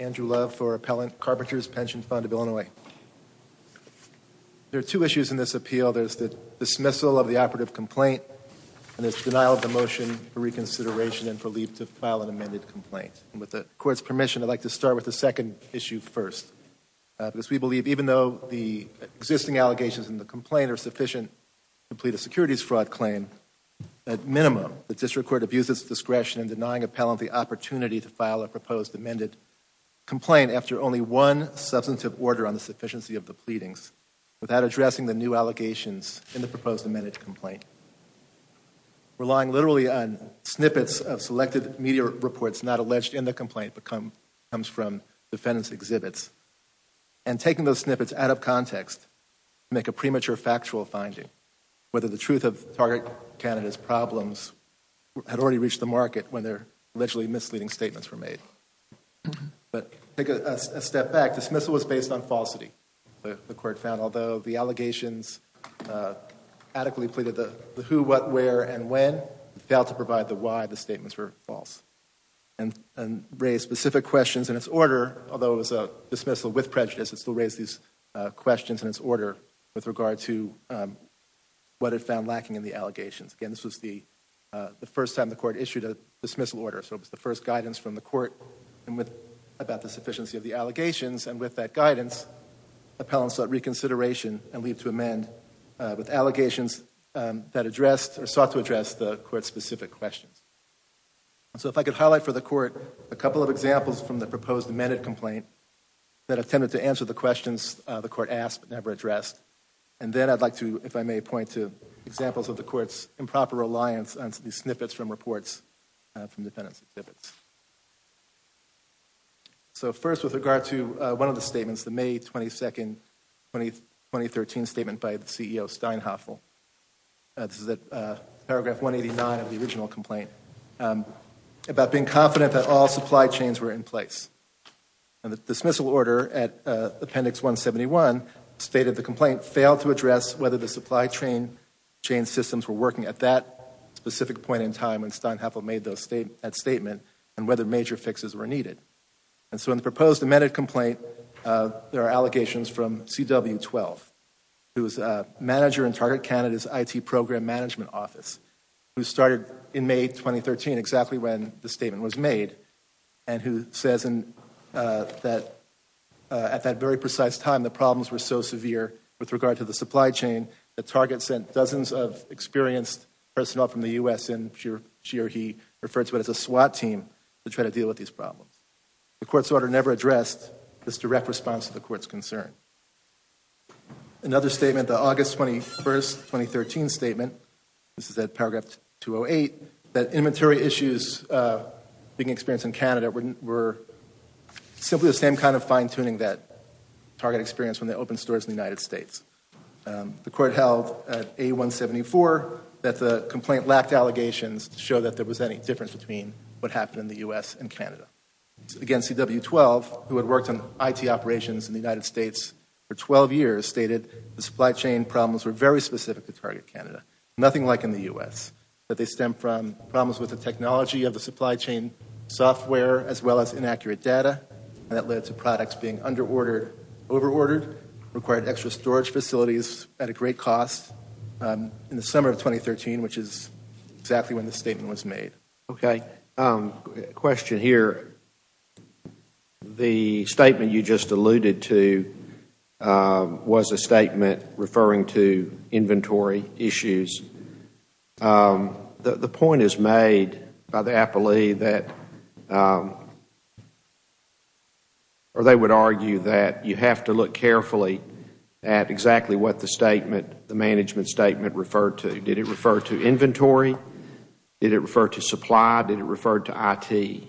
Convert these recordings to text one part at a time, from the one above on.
Andrew Love for Appellant Carpenters' Pension Fund of Illinois. There are two issues in this appeal. There's the dismissal of the operative complaint and there's the denial of the motion for reconsideration and for leave to file an amended complaint. With the court's permission, I'd like to start with the second issue first. Because we believe even though the existing allegations in the complaint are sufficient to plead a securities fraud claim, at minimum, the district court abuses discretion in denying appellant the opportunity to file a proposed amended complaint after only one substantive order on the sufficiency of the pleadings without addressing the new allegations in the proposed amended complaint. Relying literally on snippets of selected media reports not alleged in the complaint but comes from defendant's exhibits and taking those snippets out of context to make a premature factual finding, whether the truth of Target Canada's problems had already reached the market when their allegedly misleading statements were made. But take a step back. Dismissal was based on falsity. The court found although the allegations adequately pleaded the who, what, where, and when, it failed to provide the why the statements were false. And raised specific questions in its order, although it was a dismissal with prejudice, it still raised these questions in its order with regard to what it found lacking in the allegations. Again, this was the first time the court issued a dismissal order. So it was the first guidance from the court about the sufficiency of the allegations. And with that guidance, appellants sought reconsideration and leave to amend with allegations that addressed or sought to address the court's specific questions. So if I could highlight for the court a couple of examples from the proposed amended complaint that attempted to answer the questions the court asked but never addressed. And then I'd like to, if I may, point to examples of the court's improper reliance on these snippets from reports from defendants' exhibits. So first with regard to one of the statements, the May 22, 2013 statement by the CEO, Steinhoffel. This is at paragraph 189 of the original complaint about being confident that all supply chains were in place. And the dismissal order at appendix 171 stated the complaint failed to address whether the supply chain systems were working at that specific point in time when Steinhoffel made that statement and whether major fixes were needed. And so in the proposed amended complaint, there are allegations from CW12, who is a manager in Target Canada's IT program management office, who started in May 2013, exactly when the statement was made, and who says that at that very precise time the problems were so severe with regard to the supply chain that Target sent dozens of experienced personnel from the U.S. and she or he referred to it as a SWAT team to try to deal with these problems. The court's order never addressed this direct response to the court's concern. Another statement, the August 21, 2013 statement, this is at paragraph 208, that inventory issues being experienced in Canada were simply the same kind of fine-tuning that Target experienced when they opened stores in the United States. The court held at A174 that the complaint lacked allegations to show that there was any difference between what happened in the U.S. and Canada. Again, CW12, who had worked on IT operations in the United States for 12 years, stated the supply chain problems were very specific to Target Canada, nothing like in the U.S., that they stem from problems with the technology of the supply chain software as well as inaccurate data that led to products being under-ordered, over-ordered, required extra storage facilities at a great cost in the summer of 2013, which is exactly when the statement was made. Okay. A question here. The statement you just alluded to was a statement referring to inventory issues. The point is made by the appellee that they would argue that you have to look carefully at exactly what the management statement referred to. Did it refer to inventory? Did it refer to supply? Did it refer to IT?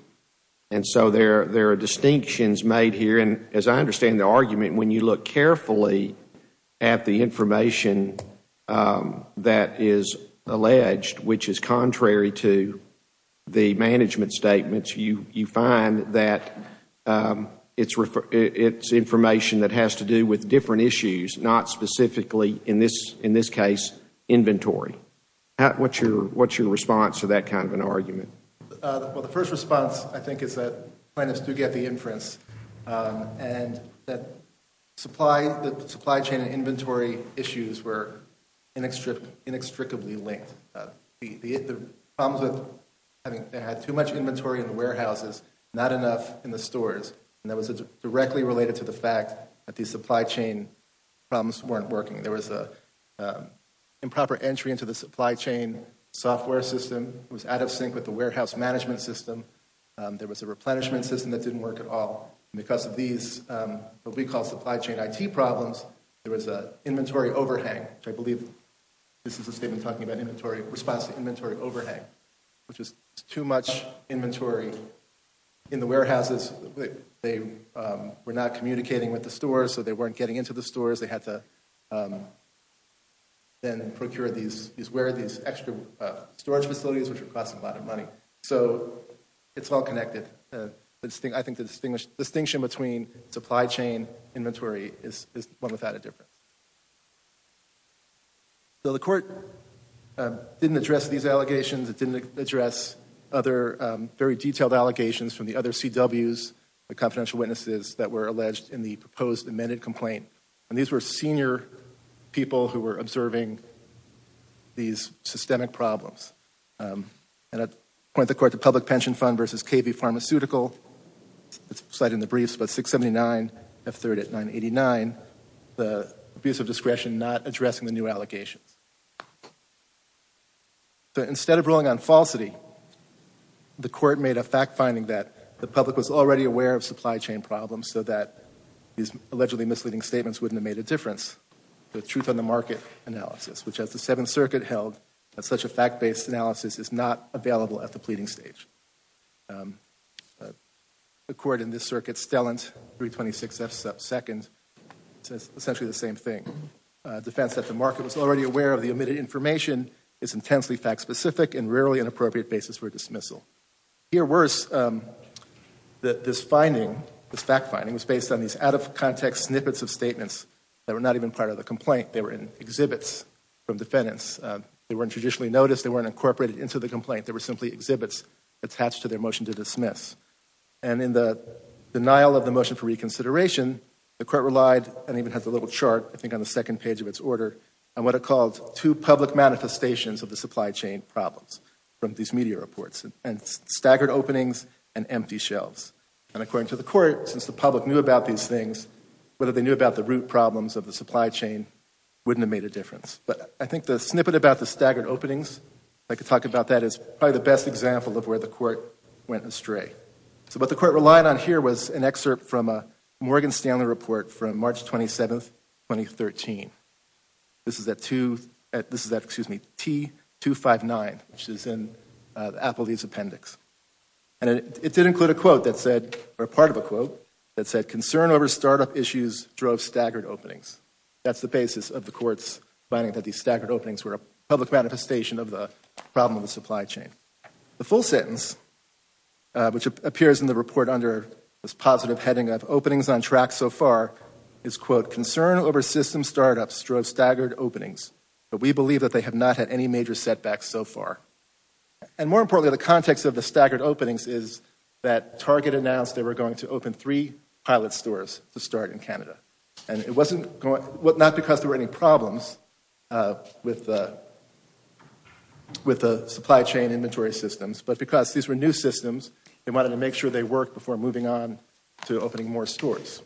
And so there are distinctions made here, and as I understand the argument, when you look carefully at the information that is alleged, which is contrary to the management statement, you find that it's information that has to do with different issues, not specifically, in this case, inventory. What's your response to that kind of an argument? Well, the first response, I think, is that plaintiffs do get the inference and that the supply chain and inventory issues were inextricably linked. The problems with having too much inventory in the warehouses, not enough in the stores, and that was directly related to the fact that the supply chain problems weren't working. There was an improper entry into the supply chain software system. It was out of sync with the warehouse management system. There was a replenishment system that didn't work at all. And because of these, what we call supply chain IT problems, there was an inventory overhang, which I believe this is a statement talking about response to inventory overhang, which is too much inventory in the warehouses. They were not communicating with the stores, so they weren't getting into the stores. They had to then procure these extra storage facilities, which were costing a lot of money. So it's all connected. I think the distinction between supply chain inventory is one without a difference. So the court didn't address these allegations. It didn't address other very detailed allegations from the other CWs, the confidential witnesses that were alleged in the proposed amended complaint. And these were senior people who were observing these systemic problems. And I point the court to Public Pension Fund versus KV Pharmaceutical. It's cited in the briefs, but 679 F3rd at 989, the abuse of discretion not addressing the new allegations. So instead of ruling on falsity, the court made a fact finding that the public was already aware of supply chain problems so that these allegedly misleading statements wouldn't have made a difference. The truth on the market analysis, which as the Seventh Circuit held, that such a fact based analysis is not available at the pleading stage. The court in this circuit, Stellent 326 F2nd, says essentially the same thing. A defense that the market was already aware of the omitted information is intensely fact specific and rarely an appropriate basis for dismissal. To hear worse, that this finding, this fact finding, was based on these out of context snippets of statements that were not even part of the complaint. They were in exhibits from defendants. They weren't traditionally noticed. They weren't incorporated into the complaint. They were simply exhibits attached to their motion to dismiss. And in the denial of the motion for reconsideration, the court relied, and even has a little chart I think on the second page of its order, on what it called two public manifestations of the supply chain problems from these media reports. And staggered openings and empty shelves. And according to the court, since the public knew about these things, whether they knew about the root problems of the supply chain wouldn't have made a difference. But I think the snippet about the staggered openings, if I could talk about that, is probably the best example of where the court went astray. So what the court relied on here was an excerpt from a Morgan Stanley report from March 27, 2013. This is at T259, which is in Applebee's appendix. And it did include a quote that said, or part of a quote that said, concern over startup issues drove staggered openings. That's the basis of the court's finding that these staggered openings were a public manifestation of the problem of the supply chain. The full sentence, which appears in the report under this positive heading of openings on track so far, is, quote, concern over system startups drove staggered openings. But we believe that they have not had any major setbacks so far. And more importantly, the context of the staggered openings is that Target announced they were going to open three pilot stores to start in Canada. And it wasn't not because there were any problems with the supply chain inventory systems, but because these were new systems, they wanted to make sure they worked before moving on to opening more stores.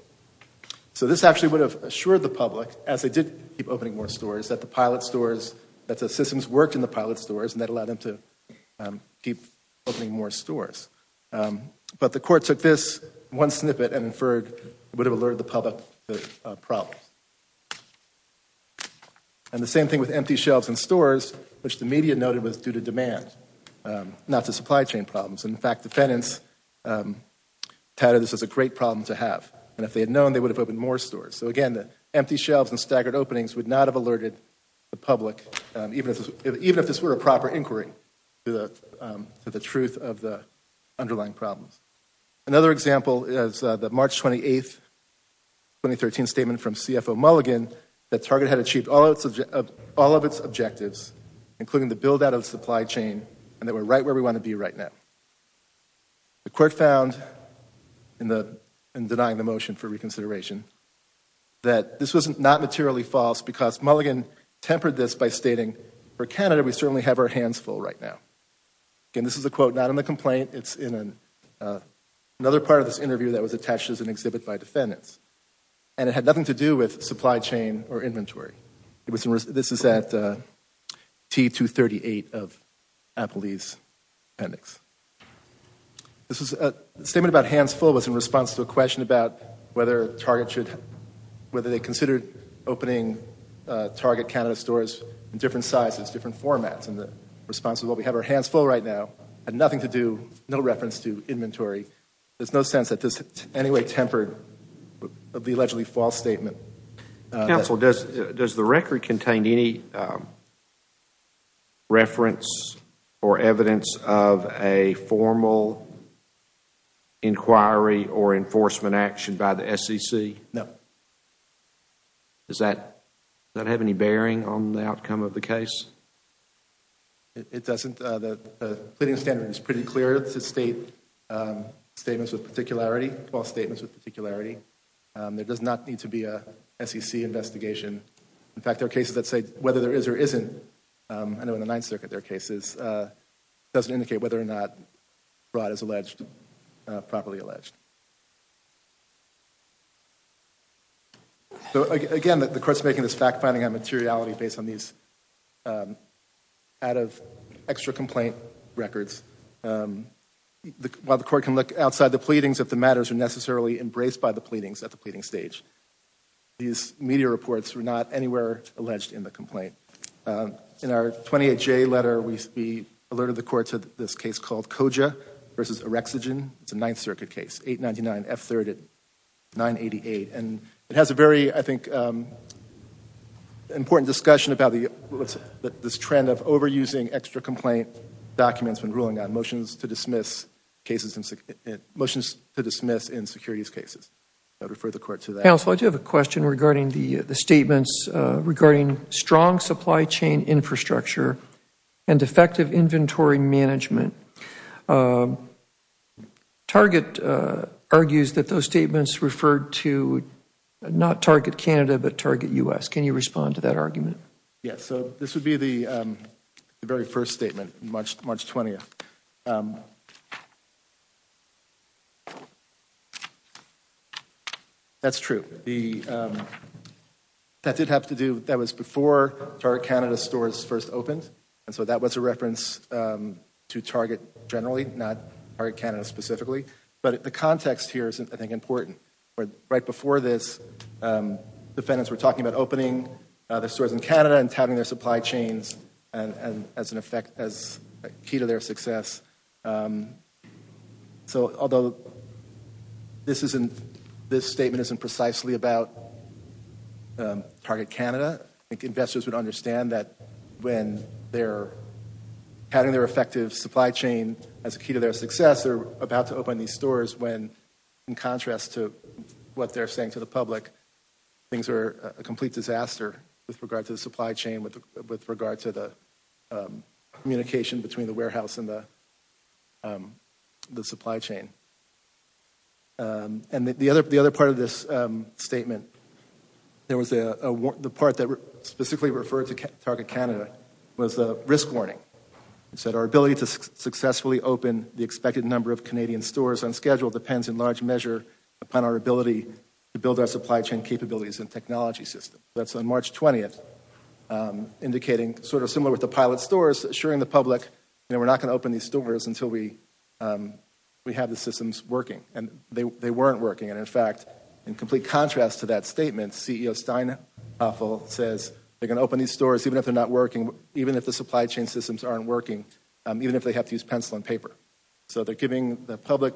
So this actually would have assured the public, as they did keep opening more stores, that the pilot stores, that the systems worked in the pilot stores and that allowed them to keep opening more stores. But the court took this one snippet and inferred it would have alerted the public to problems. And the same thing with empty shelves in stores, which the media noted was due to demand, not to supply chain problems. In fact, defendants touted this as a great problem to have. And if they had known, they would have opened more stores. So again, the empty shelves and staggered openings would not have alerted the public, even if this were a proper inquiry to the truth of the underlying problems. Another example is the March 28, 2013 statement from CFO Mulligan that Target had achieved all of its objectives, including the build-out of the supply chain, and that we're right where we want to be right now. The court found, in denying the motion for reconsideration, that this was not materially false because Mulligan tempered this by stating, for Canada, we certainly have our hands full right now. Again, this is a quote not in the complaint. It's in another part of this interview that was attached as an exhibit by defendants. This is at T238 of Applebee's appendix. This is a statement about hands full. It was in response to a question about whether Target should – whether they considered opening Target Canada stores in different sizes, different formats. And the response is, well, we have our hands full right now. Had nothing to do – no reference to inventory. There's no sense that this anyway tempered the allegedly false statement. Counsel, does the record contain any reference or evidence of a formal inquiry or enforcement action by the SEC? No. Does that have any bearing on the outcome of the case? It doesn't. The pleading standard is pretty clear to state statements with particularity, false statements with particularity. There does not need to be a SEC investigation. In fact, there are cases that say whether there is or isn't. I know in the Ninth Circuit there are cases. It doesn't indicate whether or not fraud is alleged – properly alleged. So, again, the court's making this fact-finding on materiality based on these out-of-extra-complaint records. While the court can look outside the pleadings if the matters are necessarily embraced by the pleadings at the pleading stage, these media reports were not anywhere alleged in the complaint. In our 28J letter, we alerted the court to this case called Koja v. Orexogen. It's a Ninth Circuit case, 899 F3rd at 988. And it has a very, I think, important discussion about this trend of overusing extra-complaint documents when ruling on motions to dismiss in securities cases. I would refer the court to that. Counsel, I do have a question regarding the statements regarding strong supply chain infrastructure and effective inventory management. Target argues that those statements referred to not Target Canada, but Target U.S. Can you respond to that argument? Yes, so this would be the very first statement, March 20th. That's true. That did have to do – that was before Target Canada stores first opened. And so that was a reference to Target generally, not Target Canada specifically. But the context here is, I think, important. Right before this, defendants were talking about opening their stores in Canada and touting their supply chains as key to their success. So although this statement isn't precisely about Target Canada, I think investors would understand that when they're touting their effective supply chain as key to their success, they're about to open these stores when, in contrast to what they're saying to the public, things are a complete disaster with regard to the supply chain, with regard to the communication between the warehouse and the supply chain. And the other part of this statement, the part that specifically referred to Target Canada was the risk warning. It said our ability to successfully open the expected number of Canadian stores on schedule depends in large measure upon our ability to build our supply chain capabilities and technology system. That's on March 20th, indicating sort of similar with the pilot stores, assuring the public that we're not going to open these stores until we have the systems working. And they weren't working. And in fact, in complete contrast to that statement, CEO Steinhoffel says they're going to open these stores even if they're not working, even if the supply chain systems aren't working, even if they have to use pencil and paper. So they're giving the public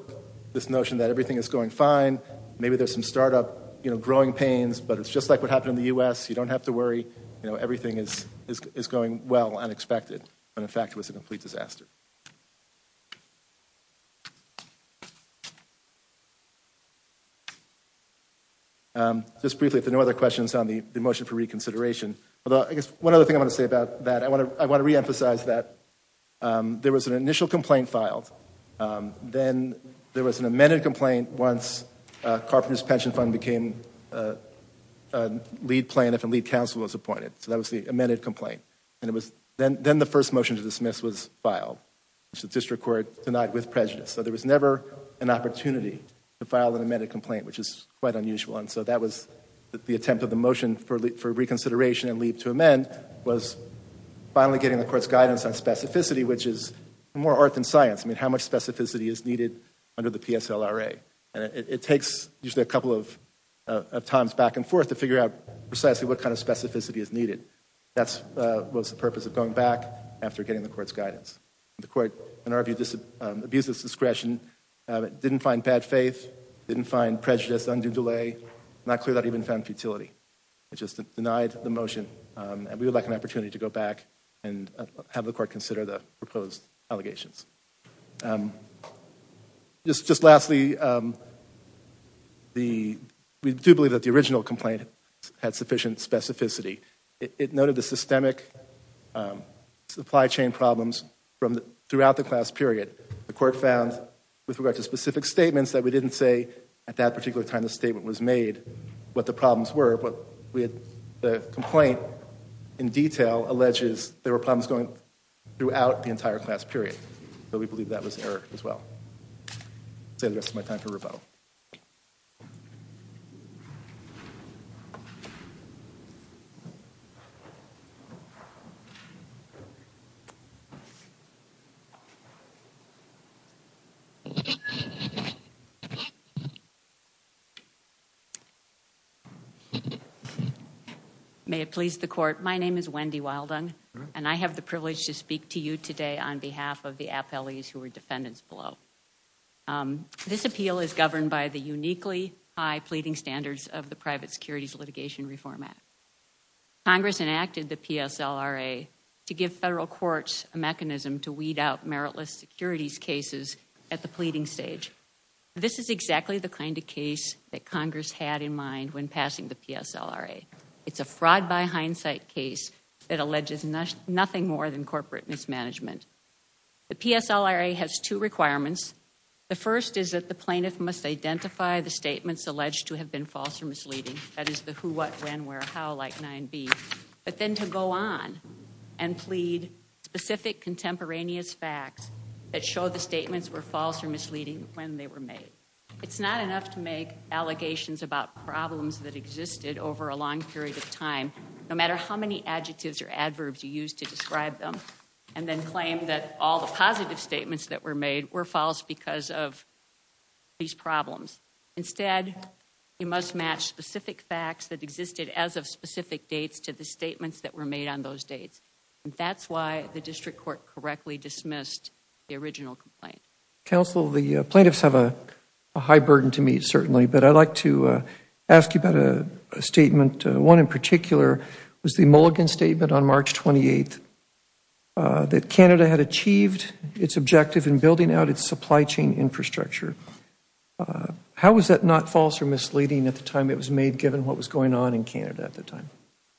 this notion that everything is going fine. Maybe there's some startup, you know, growing pains, but it's just like what happened in the U.S. You don't have to worry. You know, everything is going well, unexpected. And in fact, it was a complete disaster. Just briefly, if there are no other questions on the motion for reconsideration. Although, I guess one other thing I want to say about that, I want to reemphasize that there was an initial complaint filed. Then there was an amended complaint once Carpenters Pension Fund became a lead plan if a lead counsel was appointed. So that was the amended complaint. And it was then the first motion to dismiss was filed. The district court denied with prejudice. So there was never an opportunity to file an amended complaint, which is quite unusual. And so that was the attempt of the motion for reconsideration and leave to amend was finally getting the court's guidance on specificity, which is more art than science. I mean, how much specificity is needed under the PSLRA? And it takes just a couple of times back and forth to figure out precisely what kind of specificity is needed. That was the purpose of going back after getting the court's guidance. The court, in our view, abused its discretion, didn't find bad faith, didn't find prejudice, undue delay, not clear that even found futility. It just denied the motion. And we would like an opportunity to go back and have the court consider the proposed allegations. Just lastly, we do believe that the original complaint had sufficient specificity. It noted the systemic supply chain problems throughout the class period. The court found, with regard to specific statements, that we didn't say at that particular time the statement was made what the problems were. But the complaint in detail alleges there were problems going throughout the entire class period. So we believe that was error as well. I'll save the rest of my time for rebuttal. Thank you. May it please the court, my name is Wendy Wildung. And I have the privilege to speak to you today on behalf of the appellees who are defendants below. This appeal is governed by the uniquely high pleading standards of the Private Securities Litigation Reform Act. Congress enacted the PSLRA to give federal courts a mechanism to weed out meritless securities cases at the pleading stage. This is exactly the kind of case that Congress had in mind when passing the PSLRA. It's a fraud by hindsight case that alleges nothing more than corporate mismanagement. The PSLRA has two requirements. The first is that the plaintiff must identify the statements alleged to have been false or misleading. That is the who, what, when, where, how, like 9B. But then to go on and plead specific contemporaneous facts that show the statements were false or misleading when they were made. It's not enough to make allegations about problems that existed over a long period of time. No matter how many adjectives or adverbs you use to describe them, and then claim that all the positive statements that were made were false because of these problems. Instead, you must match specific facts that existed as of specific dates to the statements that were made on those dates. And that's why the district court correctly dismissed the original complaint. Counsel, the plaintiffs have a high burden to meet, certainly, but I'd like to ask you about a statement, one in particular was the Mulligan statement on March 28th, that Canada had achieved its objective in building out its supply chain infrastructure. How was that not false or misleading at the time it was made, given what was going on in Canada at the time?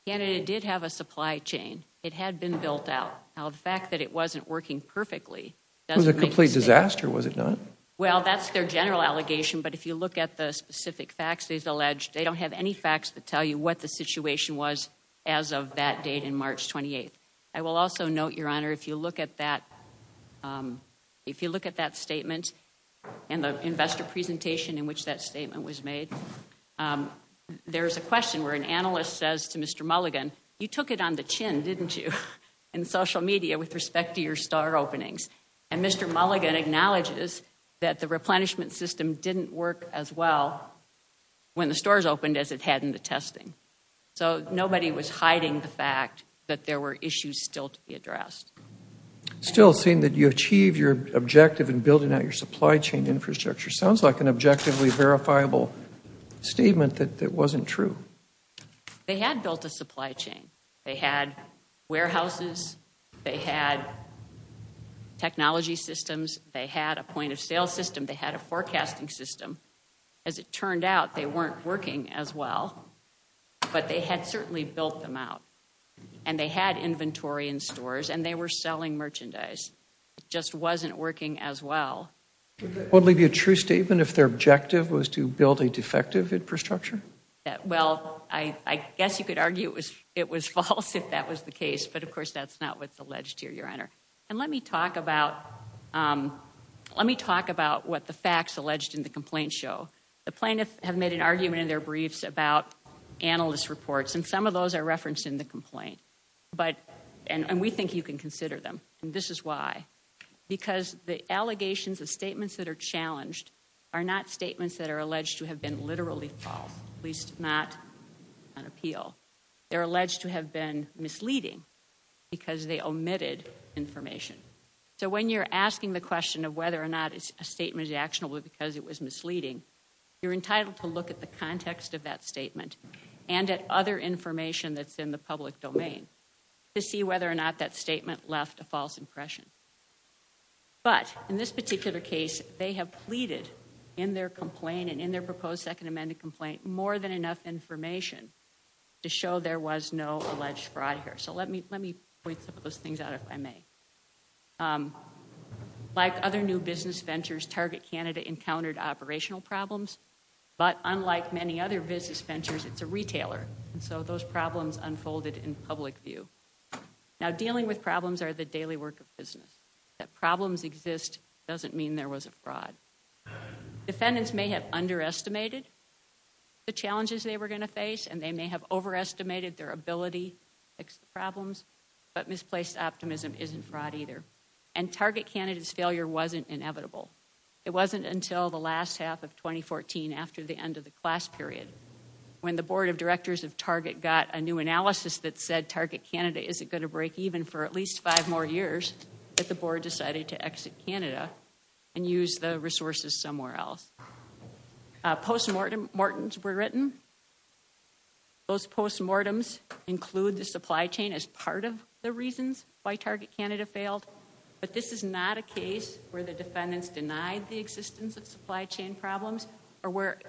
Canada did have a supply chain. It had been built out. Now, the fact that it wasn't working perfectly doesn't make sense. It was a complete disaster, was it not? Well, that's their general allegation, but if you look at the specific facts they've alleged, they don't have any facts that tell you what the situation was as of that date on March 28th. I will also note, Your Honor, if you look at that statement and the investor presentation in which that statement was made, there's a question where an analyst says to Mr. Mulligan, you took it on the chin, didn't you, in social media with respect to your store openings. And Mr. Mulligan acknowledges that the replenishment system didn't work as well when the stores opened as it had in the testing. So nobody was hiding the fact that there were issues still to be addressed. Still seeing that you achieved your objective in building out your supply chain infrastructure sounds like an objectively verifiable statement that wasn't true. They had built a supply chain. They had warehouses. They had technology systems. They had a point of sale system. They had a forecasting system. As it turned out, they weren't working as well, but they had certainly built them out. And they had inventory in stores and they were selling merchandise. It just wasn't working as well. Would it be a true statement if their objective was to build a defective infrastructure? Well, I guess you could argue it was false if that was the case, but of course that's not what's alleged here, Your Honor. And let me talk about what the facts alleged in the complaint show. The plaintiffs have made an argument in their briefs about analyst reports, and some of those are referenced in the complaint. And we think you can consider them, and this is why. Because the allegations of statements that are challenged are not statements that are alleged to have been literally false, at least not on appeal. They're alleged to have been misleading because they omitted information. So when you're asking the question of whether or not a statement is actionable because it was misleading, you're entitled to look at the context of that statement and at other information that's in the public domain to see whether or not that statement left a false impression. But in this particular case, they have pleaded in their complaint and in their proposed Second Amendment complaint more than enough information to show there was no alleged fraud here. So let me point some of those things out if I may. Like other new business ventures, Target Canada encountered operational problems, but unlike many other business ventures, it's a retailer, and so those problems unfolded in public view. Now, dealing with problems are the daily work of business. That problems exist doesn't mean there was a fraud. Defendants may have underestimated the challenges they were going to face and they may have overestimated their ability to fix the problems, but misplaced optimism isn't fraud either. And Target Canada's failure wasn't inevitable. It wasn't until the last half of 2014 after the end of the class period when the Board of Directors of Target got a new analysis that said Target Canada isn't going to break even for at least five more years that the board decided to exit Canada and use the resources somewhere else. Postmortems were written. Those postmortems include the supply chain as part of the reasons why Target Canada failed, but this is not a case where the defendants denied the existence of supply chain problems or where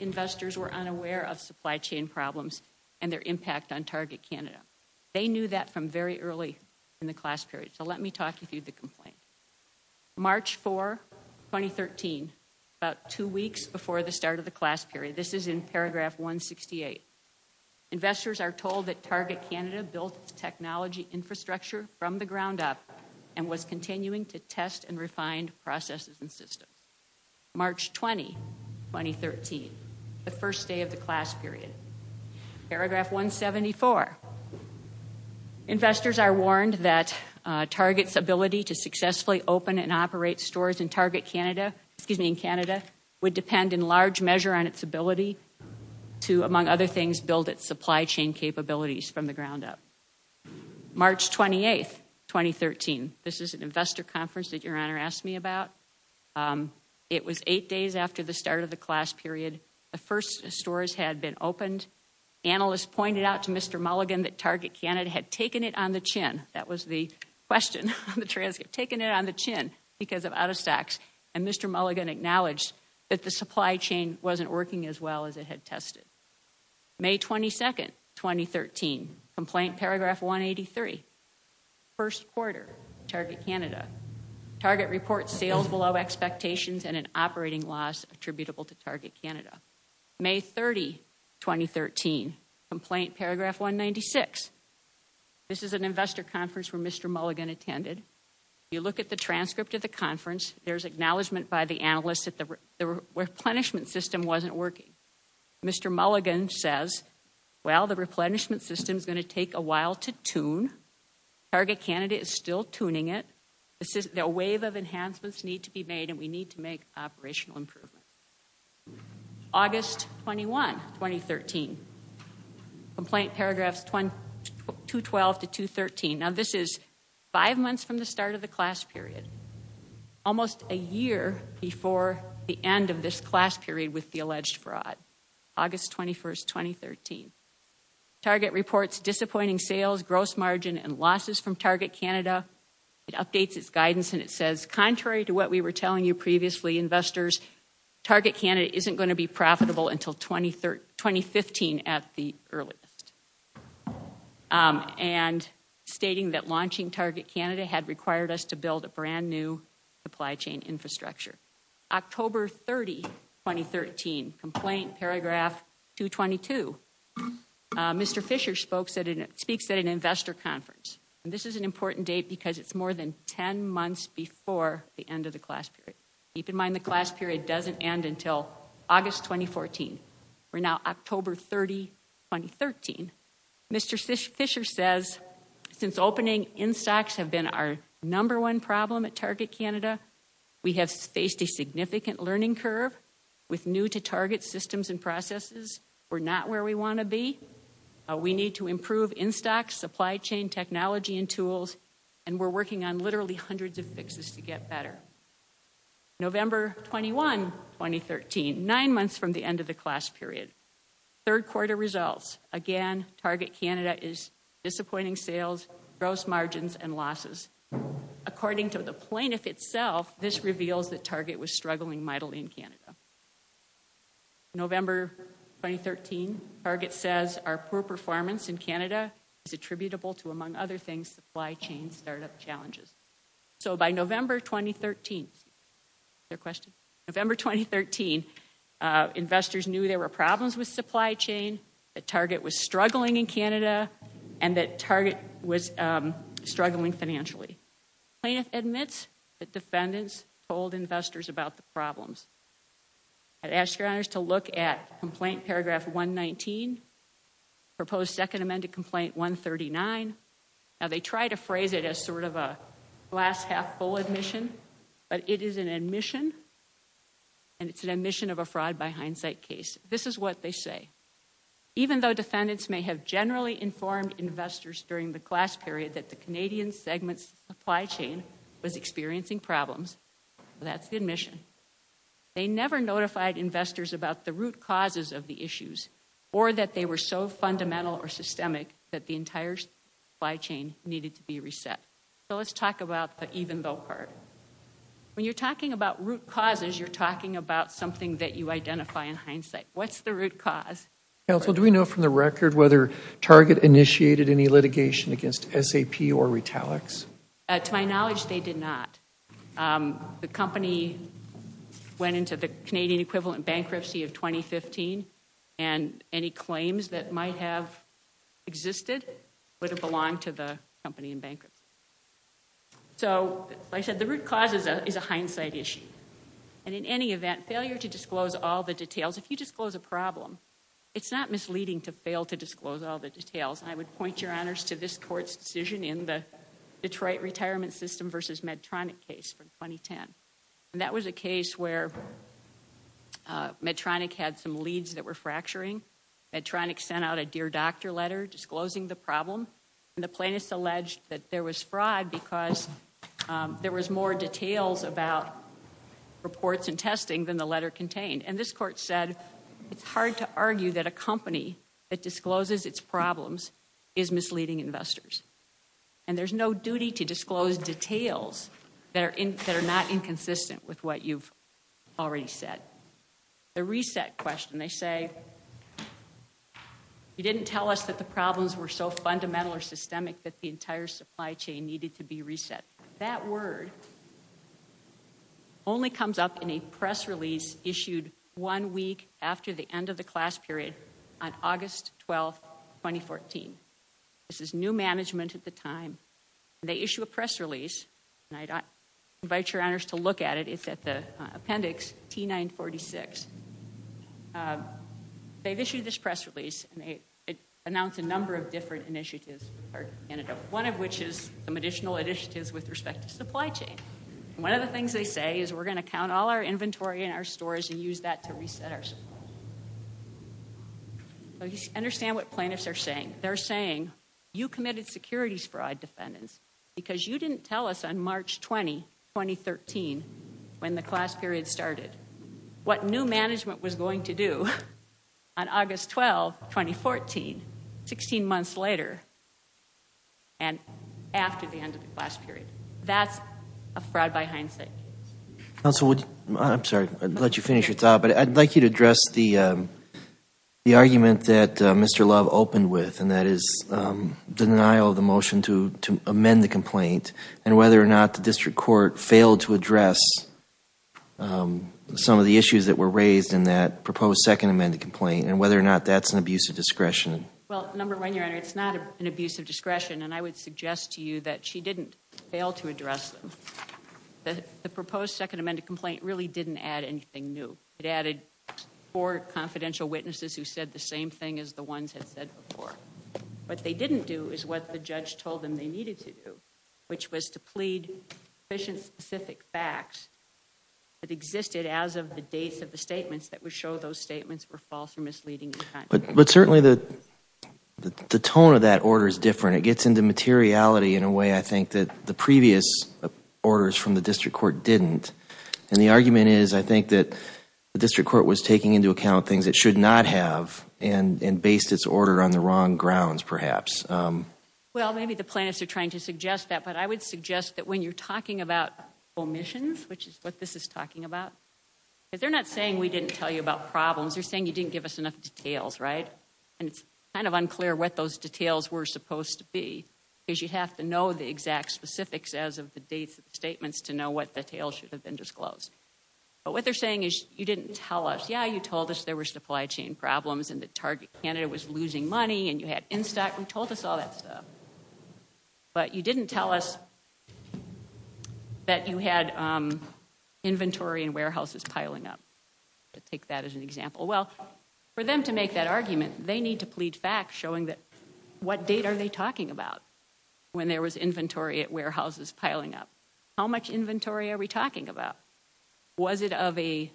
investors were unaware of supply chain problems and their impact on Target Canada. They knew that from very early in the class period. So let me talk you through the complaint. March 4, 2013, about two weeks before the start of the class period. This is in paragraph 168. Investors are told that Target Canada built its technology infrastructure from the ground up and was continuing to test and refine processes and systems. March 20, 2013, the first day of the class period. Paragraph 174. Investors are warned that Target's ability to successfully open and operate stores in Target Canada would depend in large measure on its ability to, among other things, build its supply chain capabilities from the ground up. March 28, 2013. This is an investor conference that Your Honor asked me about. It was eight days after the start of the class period. The first stores had been opened. Analysts pointed out to Mr. Mulligan that Target Canada had taken it on the chin. That was the question on the transcript. Taken it on the chin because of out-of-stocks. And Mr. Mulligan acknowledged that the supply chain wasn't working as well as it had tested. May 22, 2013. Complaint paragraph 183. First quarter, Target Canada. Target reports sales below expectations and an operating loss attributable to Target Canada. May 30, 2013. Complaint paragraph 196. This is an investor conference where Mr. Mulligan attended. You look at the transcript of the conference. There's acknowledgement by the analysts that the replenishment system wasn't working. Mr. Mulligan says, well, the replenishment system's going to take a while to tune. Target Canada is still tuning it. A wave of enhancements need to be made, and we need to make operational improvements. August 21, 2013. Complaint paragraphs 212 to 213. Now, this is five months from the start of the class period. Almost a year before the end of this class period with the alleged fraud. August 21, 2013. Target reports disappointing sales, gross margin, and losses from Target Canada. It updates its guidance and it says, contrary to what we were telling you previously, investors, Target Canada isn't going to be profitable until 2015 at the earliest. And stating that launching Target Canada had required us to build a brand new supply chain infrastructure. October 30, 2013. Complaint paragraph 222. Mr. Fisher speaks at an investor conference. And this is an important date because it's more than 10 months before the end of the class period. Keep in mind the class period doesn't end until August 2014. We're now October 30, 2013. Mr. Fisher says, since opening in stocks have been our number one problem at Target Canada, we have faced a significant learning curve with new-to-target systems and processes. We're not where we want to be. We need to improve in-stock supply chain technology and tools, and we're working on literally hundreds of fixes to get better. November 21, 2013. Nine months from the end of the class period. Third quarter results. Again, Target Canada is disappointing sales, gross margins, and losses. According to the plaintiff itself, this reveals that Target was struggling mightily in Canada. November 2013. Target says our poor performance in Canada is attributable to, among other things, supply chain startup challenges. So by November 2013, investors knew there were problems with supply chain, that Target was struggling in Canada, and that Target was struggling financially. Plaintiff admits that defendants told investors about the problems. I'd ask your honors to look at complaint paragraph 119, proposed second amended complaint 139. Now, they try to phrase it as sort of a glass half full admission, but it is an admission, and it's an admission of a fraud by hindsight case. This is what they say. Even though defendants may have generally informed investors during the class period that the Canadian segment supply chain was experiencing problems, that's the admission, they never notified investors about the root causes of the issues or that they were so fundamental or systemic that the entire supply chain needed to be reset. So let's talk about the even though part. When you're talking about root causes, you're talking about something that you identify in hindsight. What's the root cause? Counsel, do we know from the record whether Target initiated any litigation against SAP or Retalix? To my knowledge, they did not. The company went into the Canadian equivalent bankruptcy of 2015, and any claims that might have existed would have belonged to the company in bankruptcy. So like I said, the root cause is a hindsight issue. And in any event, failure to disclose all the details, if you disclose a problem, it's not misleading to fail to disclose all the details. And I would point your honors to this court's decision in the Detroit retirement system versus Medtronic case from 2010. And that was a case where Medtronic had some leads that were fracturing. Medtronic sent out a dear doctor letter disclosing the problem, and the plaintiffs alleged that there was fraud because there was more details about reports and testing than the letter contained. And this court said it's hard to argue that a company that discloses its problems is misleading investors. And there's no duty to disclose details that are not inconsistent with what you've already said. The reset question, they say, you didn't tell us that the problems were so fundamental or systemic that the entire supply chain needed to be reset. That word only comes up in a press release issued one week after the end of the class period on August 12, 2014. This is new management at the time. They issue a press release, and I invite your honors to look at it. It's at the appendix T-946. They've issued this press release, and it announced a number of different initiatives. One of which is some additional initiatives with respect to supply chain. One of the things they say is we're going to count all our inventory in our stores and use that to reset our supply chain. Understand what plaintiffs are saying. They're saying you committed securities fraud, defendants, because you didn't tell us on March 20, 2013, when the class period started, what new management was going to do on August 12, 2014, 16 months later and after the end of the class period. That's a fraud by hindsight. Counsel, I'm sorry to let you finish your thought, but I'd like you to address the argument that Mr. Love opened with, and that is denial of the motion to amend the complaint and whether or not the district court failed to address some of the issues that were raised in that proposed second amended complaint and whether or not that's an abuse of discretion. Well, number one, your honor, it's not an abuse of discretion, and I would suggest to you that she didn't fail to address them. The proposed second amended complaint really didn't add anything new. It added four confidential witnesses who said the same thing as the ones that said before. What they didn't do is what the judge told them they needed to do, which was to plead sufficient specific facts that existed as of the dates of the statements that would show those statements were false or misleading. But certainly the tone of that order is different. It gets into materiality in a way, I think, that the previous orders from the district court didn't, and the argument is, I think, that the district court was taking into account things it should not have and based its order on the wrong grounds, perhaps. Well, maybe the plaintiffs are trying to suggest that, but I would suggest that when you're talking about omissions, which is what this is talking about, because they're not saying we didn't tell you about problems. They're saying you didn't give us enough details, right? And it's kind of unclear what those details were supposed to be because you'd have to know the exact specifics as of the dates of the statements to know what details should have been disclosed. But what they're saying is you didn't tell us. Yeah, you told us there were supply chain problems and that Target Canada was losing money and you had in-stock. We told us all that stuff. But you didn't tell us that you had inventory and warehouses piling up, to take that as an example. Well, for them to make that argument, they need to plead facts showing what date are they talking about when there was inventory at warehouses piling up. How much inventory are we talking about? Was it of a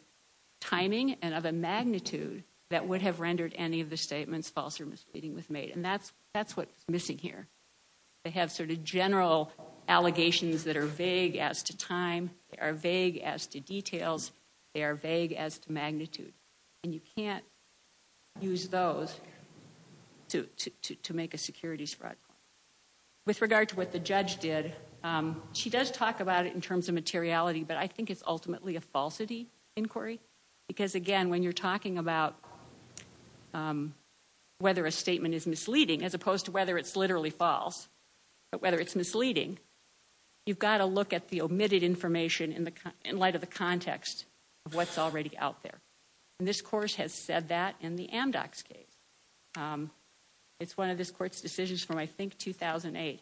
timing and of a magnitude that would have rendered any of the statements false or misleading with made? And that's what's missing here. They have sort of general allegations that are vague as to time. They are vague as to details. They are vague as to magnitude. And you can't use those to make a securities fraud claim. With regard to what the judge did, she does talk about it in terms of materiality, but I think it's ultimately a falsity inquiry. Because, again, when you're talking about whether a statement is misleading as opposed to whether it's literally false, whether it's misleading, you've got to look at the omitted information in light of the context of what's already out there. And this course has said that in the Amdocs case. It's one of this court's decisions from, I think, 2008.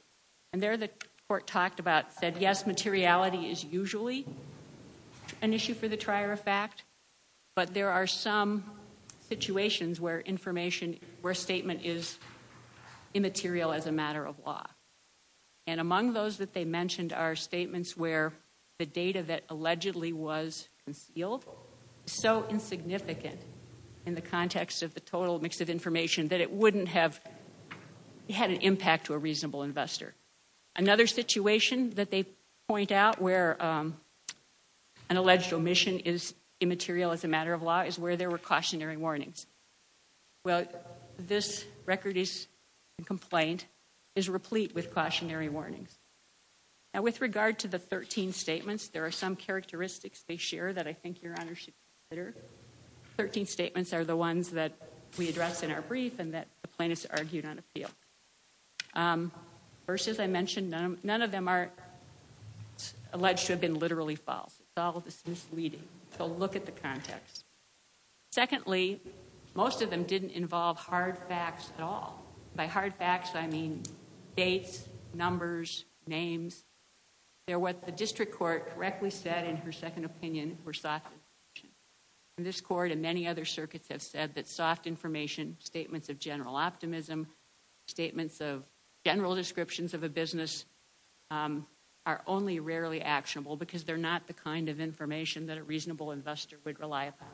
And there the court talked about, said, yes, materiality is usually an issue for the trier of fact, but there are some situations where information, where a statement is immaterial as a matter of law. And among those that they mentioned are statements where the data that allegedly was concealed is so insignificant in the context of the total mix of information that it wouldn't have had an impact to a reasonable investor. Another situation that they point out where an alleged omission is immaterial as a matter of law is where there were cautionary warnings. Well, this record is a complaint is replete with cautionary warnings. Now, with regard to the 13 statements, there are some characteristics they share that I think Your Honor should consider. The 13 statements are the ones that we addressed in our brief and that the plaintiffs argued on appeal. First, as I mentioned, none of them are alleged to have been literally false. It's all misleading. So look at the context. Secondly, most of them didn't involve hard facts at all. They're what the district court correctly said in her second opinion were soft information. And this court and many other circuits have said that soft information, statements of general optimism, statements of general descriptions of a business are only rarely actionable because they're not the kind of information that a reasonable investor would rely upon.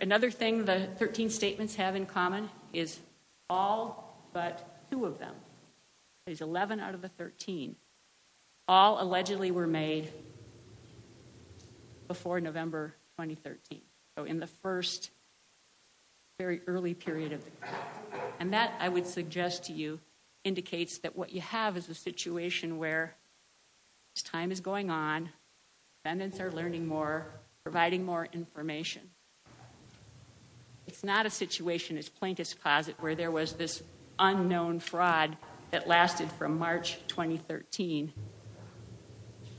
Another thing the 13 statements have in common is all but two of them. That is 11 out of the 13. All allegedly were made before November 2013. So in the first very early period of time. And that, I would suggest to you, indicates that what you have is a situation where this time is going on, defendants are learning more, providing more information. It's not a situation as plaintiff's closet where there was this unknown fraud that lasted from March 2013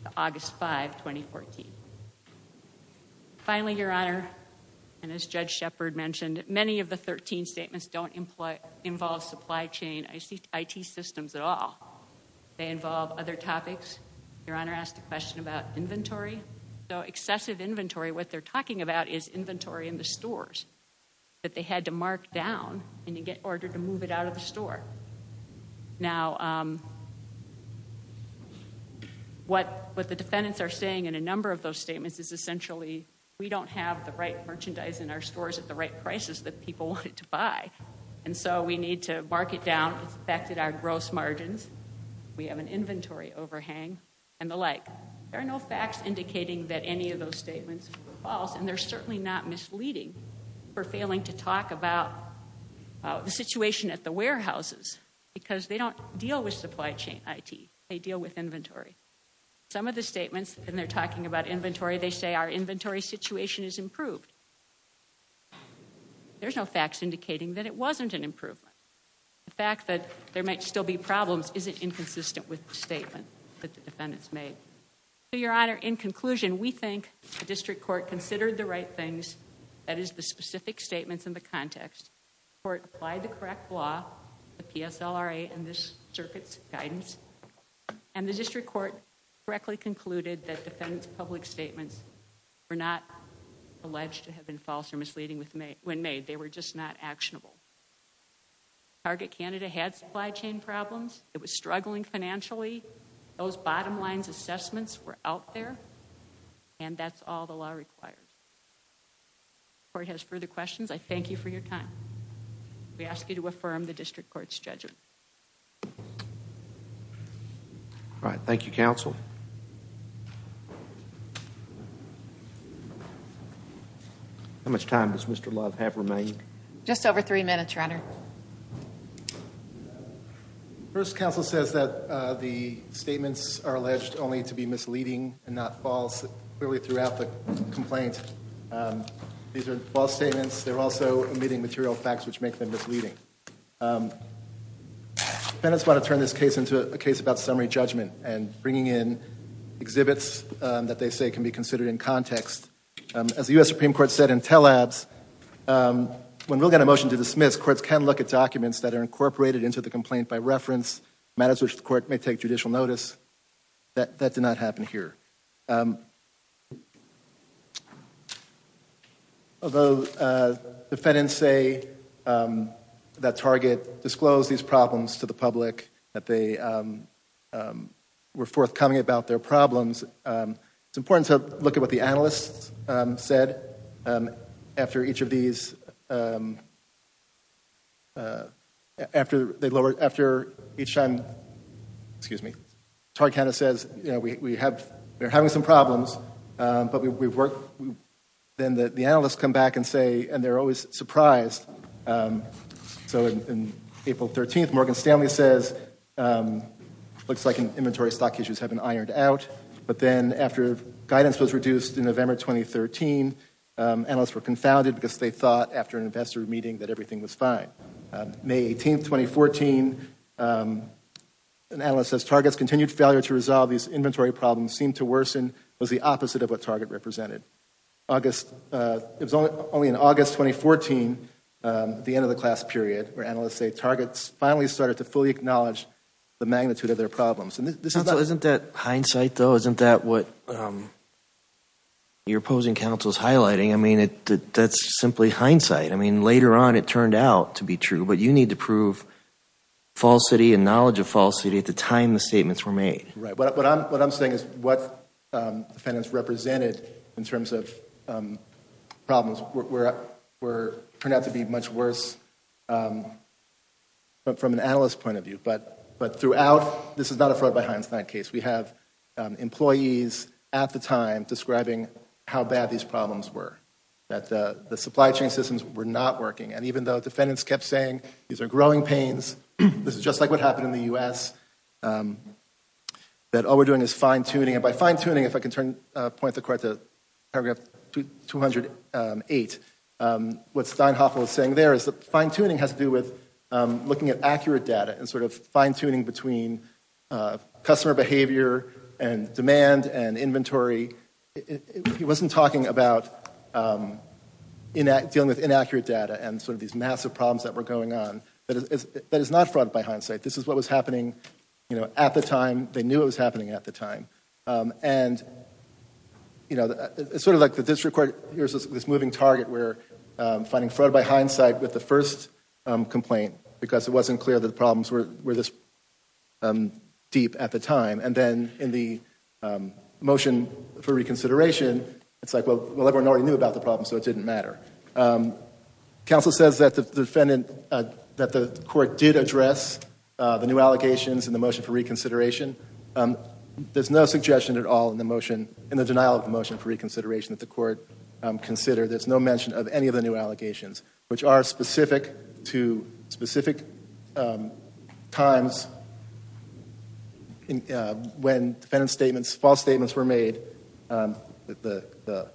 to August 5, 2014. Finally, Your Honor, and as Judge Shepard mentioned, many of the 13 statements don't involve supply chain IT systems at all. They involve other topics. Your Honor asked a question about inventory. So excessive inventory, what they're talking about is inventory in the stores that they had to mark down in order to move it out of the store. Now, what the defendants are saying in a number of those statements is essentially we don't have the right merchandise in our stores at the right prices that people wanted to buy. And so we need to mark it down. It's affected our gross margins. We have an inventory overhang and the like. There are no facts indicating that any of those statements are false, and they're certainly not misleading for failing to talk about the situation at the warehouses because they don't deal with supply chain IT. They deal with inventory. Some of the statements, and they're talking about inventory, they say our inventory situation is improved. There's no facts indicating that it wasn't an improvement. The fact that there might still be problems isn't inconsistent with the statement that the defendants made. So, Your Honor, in conclusion, we think the district court considered the right things, that is the specific statements in the context. The court applied the correct law, the PSLRA and this circuit's guidance, and the district court correctly concluded that defendants' public statements were not alleged to have been false or misleading when made. They were just not actionable. Target Canada had supply chain problems. It was struggling financially. Those bottom line assessments were out there, and that's all the law requires. If the court has further questions, I thank you for your time. We ask you to affirm the district court's judgment. All right, thank you, counsel. Thank you. How much time does Mr. Love have remaining? Just over three minutes, Your Honor. First, counsel says that the statements are alleged only to be misleading and not false. Clearly throughout the complaint, these are false statements. They're also omitting material facts which make them misleading. Defendants want to turn this case into a case about summary judgment and bringing in exhibits that they say can be considered in context. As the U.S. Supreme Court said in Tell-Abs, when we'll get a motion to dismiss, courts can look at documents that are incorporated into the complaint by reference, matters which the court may take judicial notice. That did not happen here. Although defendants say that Target disclosed these problems to the public, that they were forthcoming about their problems, it's important to look at what the analysts said after each of these. After each time, excuse me, Target kind of says, you know, we're having some problems, but then the analysts come back and say, and they're always surprised. So on April 13th, Morgan Stanley says, looks like inventory stock issues have been ironed out. But then after guidance was reduced in November 2013, analysts were confounded because they thought after an investor meeting that everything was fine. May 18th, 2014, an analyst says, Target's continued failure to resolve these inventory problems seemed to worsen, was the opposite of what Target represented. It was only in August 2014, the end of the class period, where analysts say Target finally started to fully acknowledge the magnitude of their problems. Counsel, isn't that hindsight, though? Isn't that what your opposing counsel is highlighting? I mean, that's simply hindsight. I mean, later on it turned out to be true, but you need to prove falsity and knowledge of falsity at the time the statements were made. Right. What I'm saying is what defendants represented in terms of problems turned out to be much worse from an analyst's point of view. But throughout, this is not a fraud by hindsight case. We have employees at the time describing how bad these problems were, that the supply chain systems were not working. And even though defendants kept saying these are growing pains, this is just like what happened in the U.S., that all we're doing is fine-tuning. And by fine-tuning, if I can point the court to paragraph 208, what Steinhoffel is saying there is that fine-tuning has to do with looking at accurate data and sort of fine-tuning between customer behavior and demand and inventory. He wasn't talking about dealing with inaccurate data and sort of these massive problems that were going on. That is not fraud by hindsight. This is what was happening at the time. They knew it was happening at the time. And it's sort of like the district court, here's this moving target where finding fraud by hindsight with the first complaint because it wasn't clear that the problems were this deep at the time. And then in the motion for reconsideration, it's like, well, everyone already knew about the problem, so it didn't matter. Counsel says that the defendant, that the court did address the new allegations in the motion for reconsideration. There's no suggestion at all in the motion, in the denial of the motion for reconsideration that the court considered. There's no mention of any of the new allegations, which are specific to specific times when defendant statements, false statements were made. The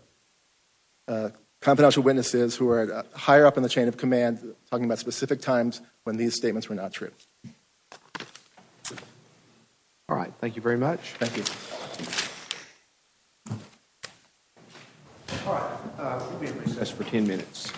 confidential witnesses who are higher up in the chain of command talking about specific times when these statements were not true. All right. Thank you very much. Thank you. All right. We'll be in recess for 10 minutes.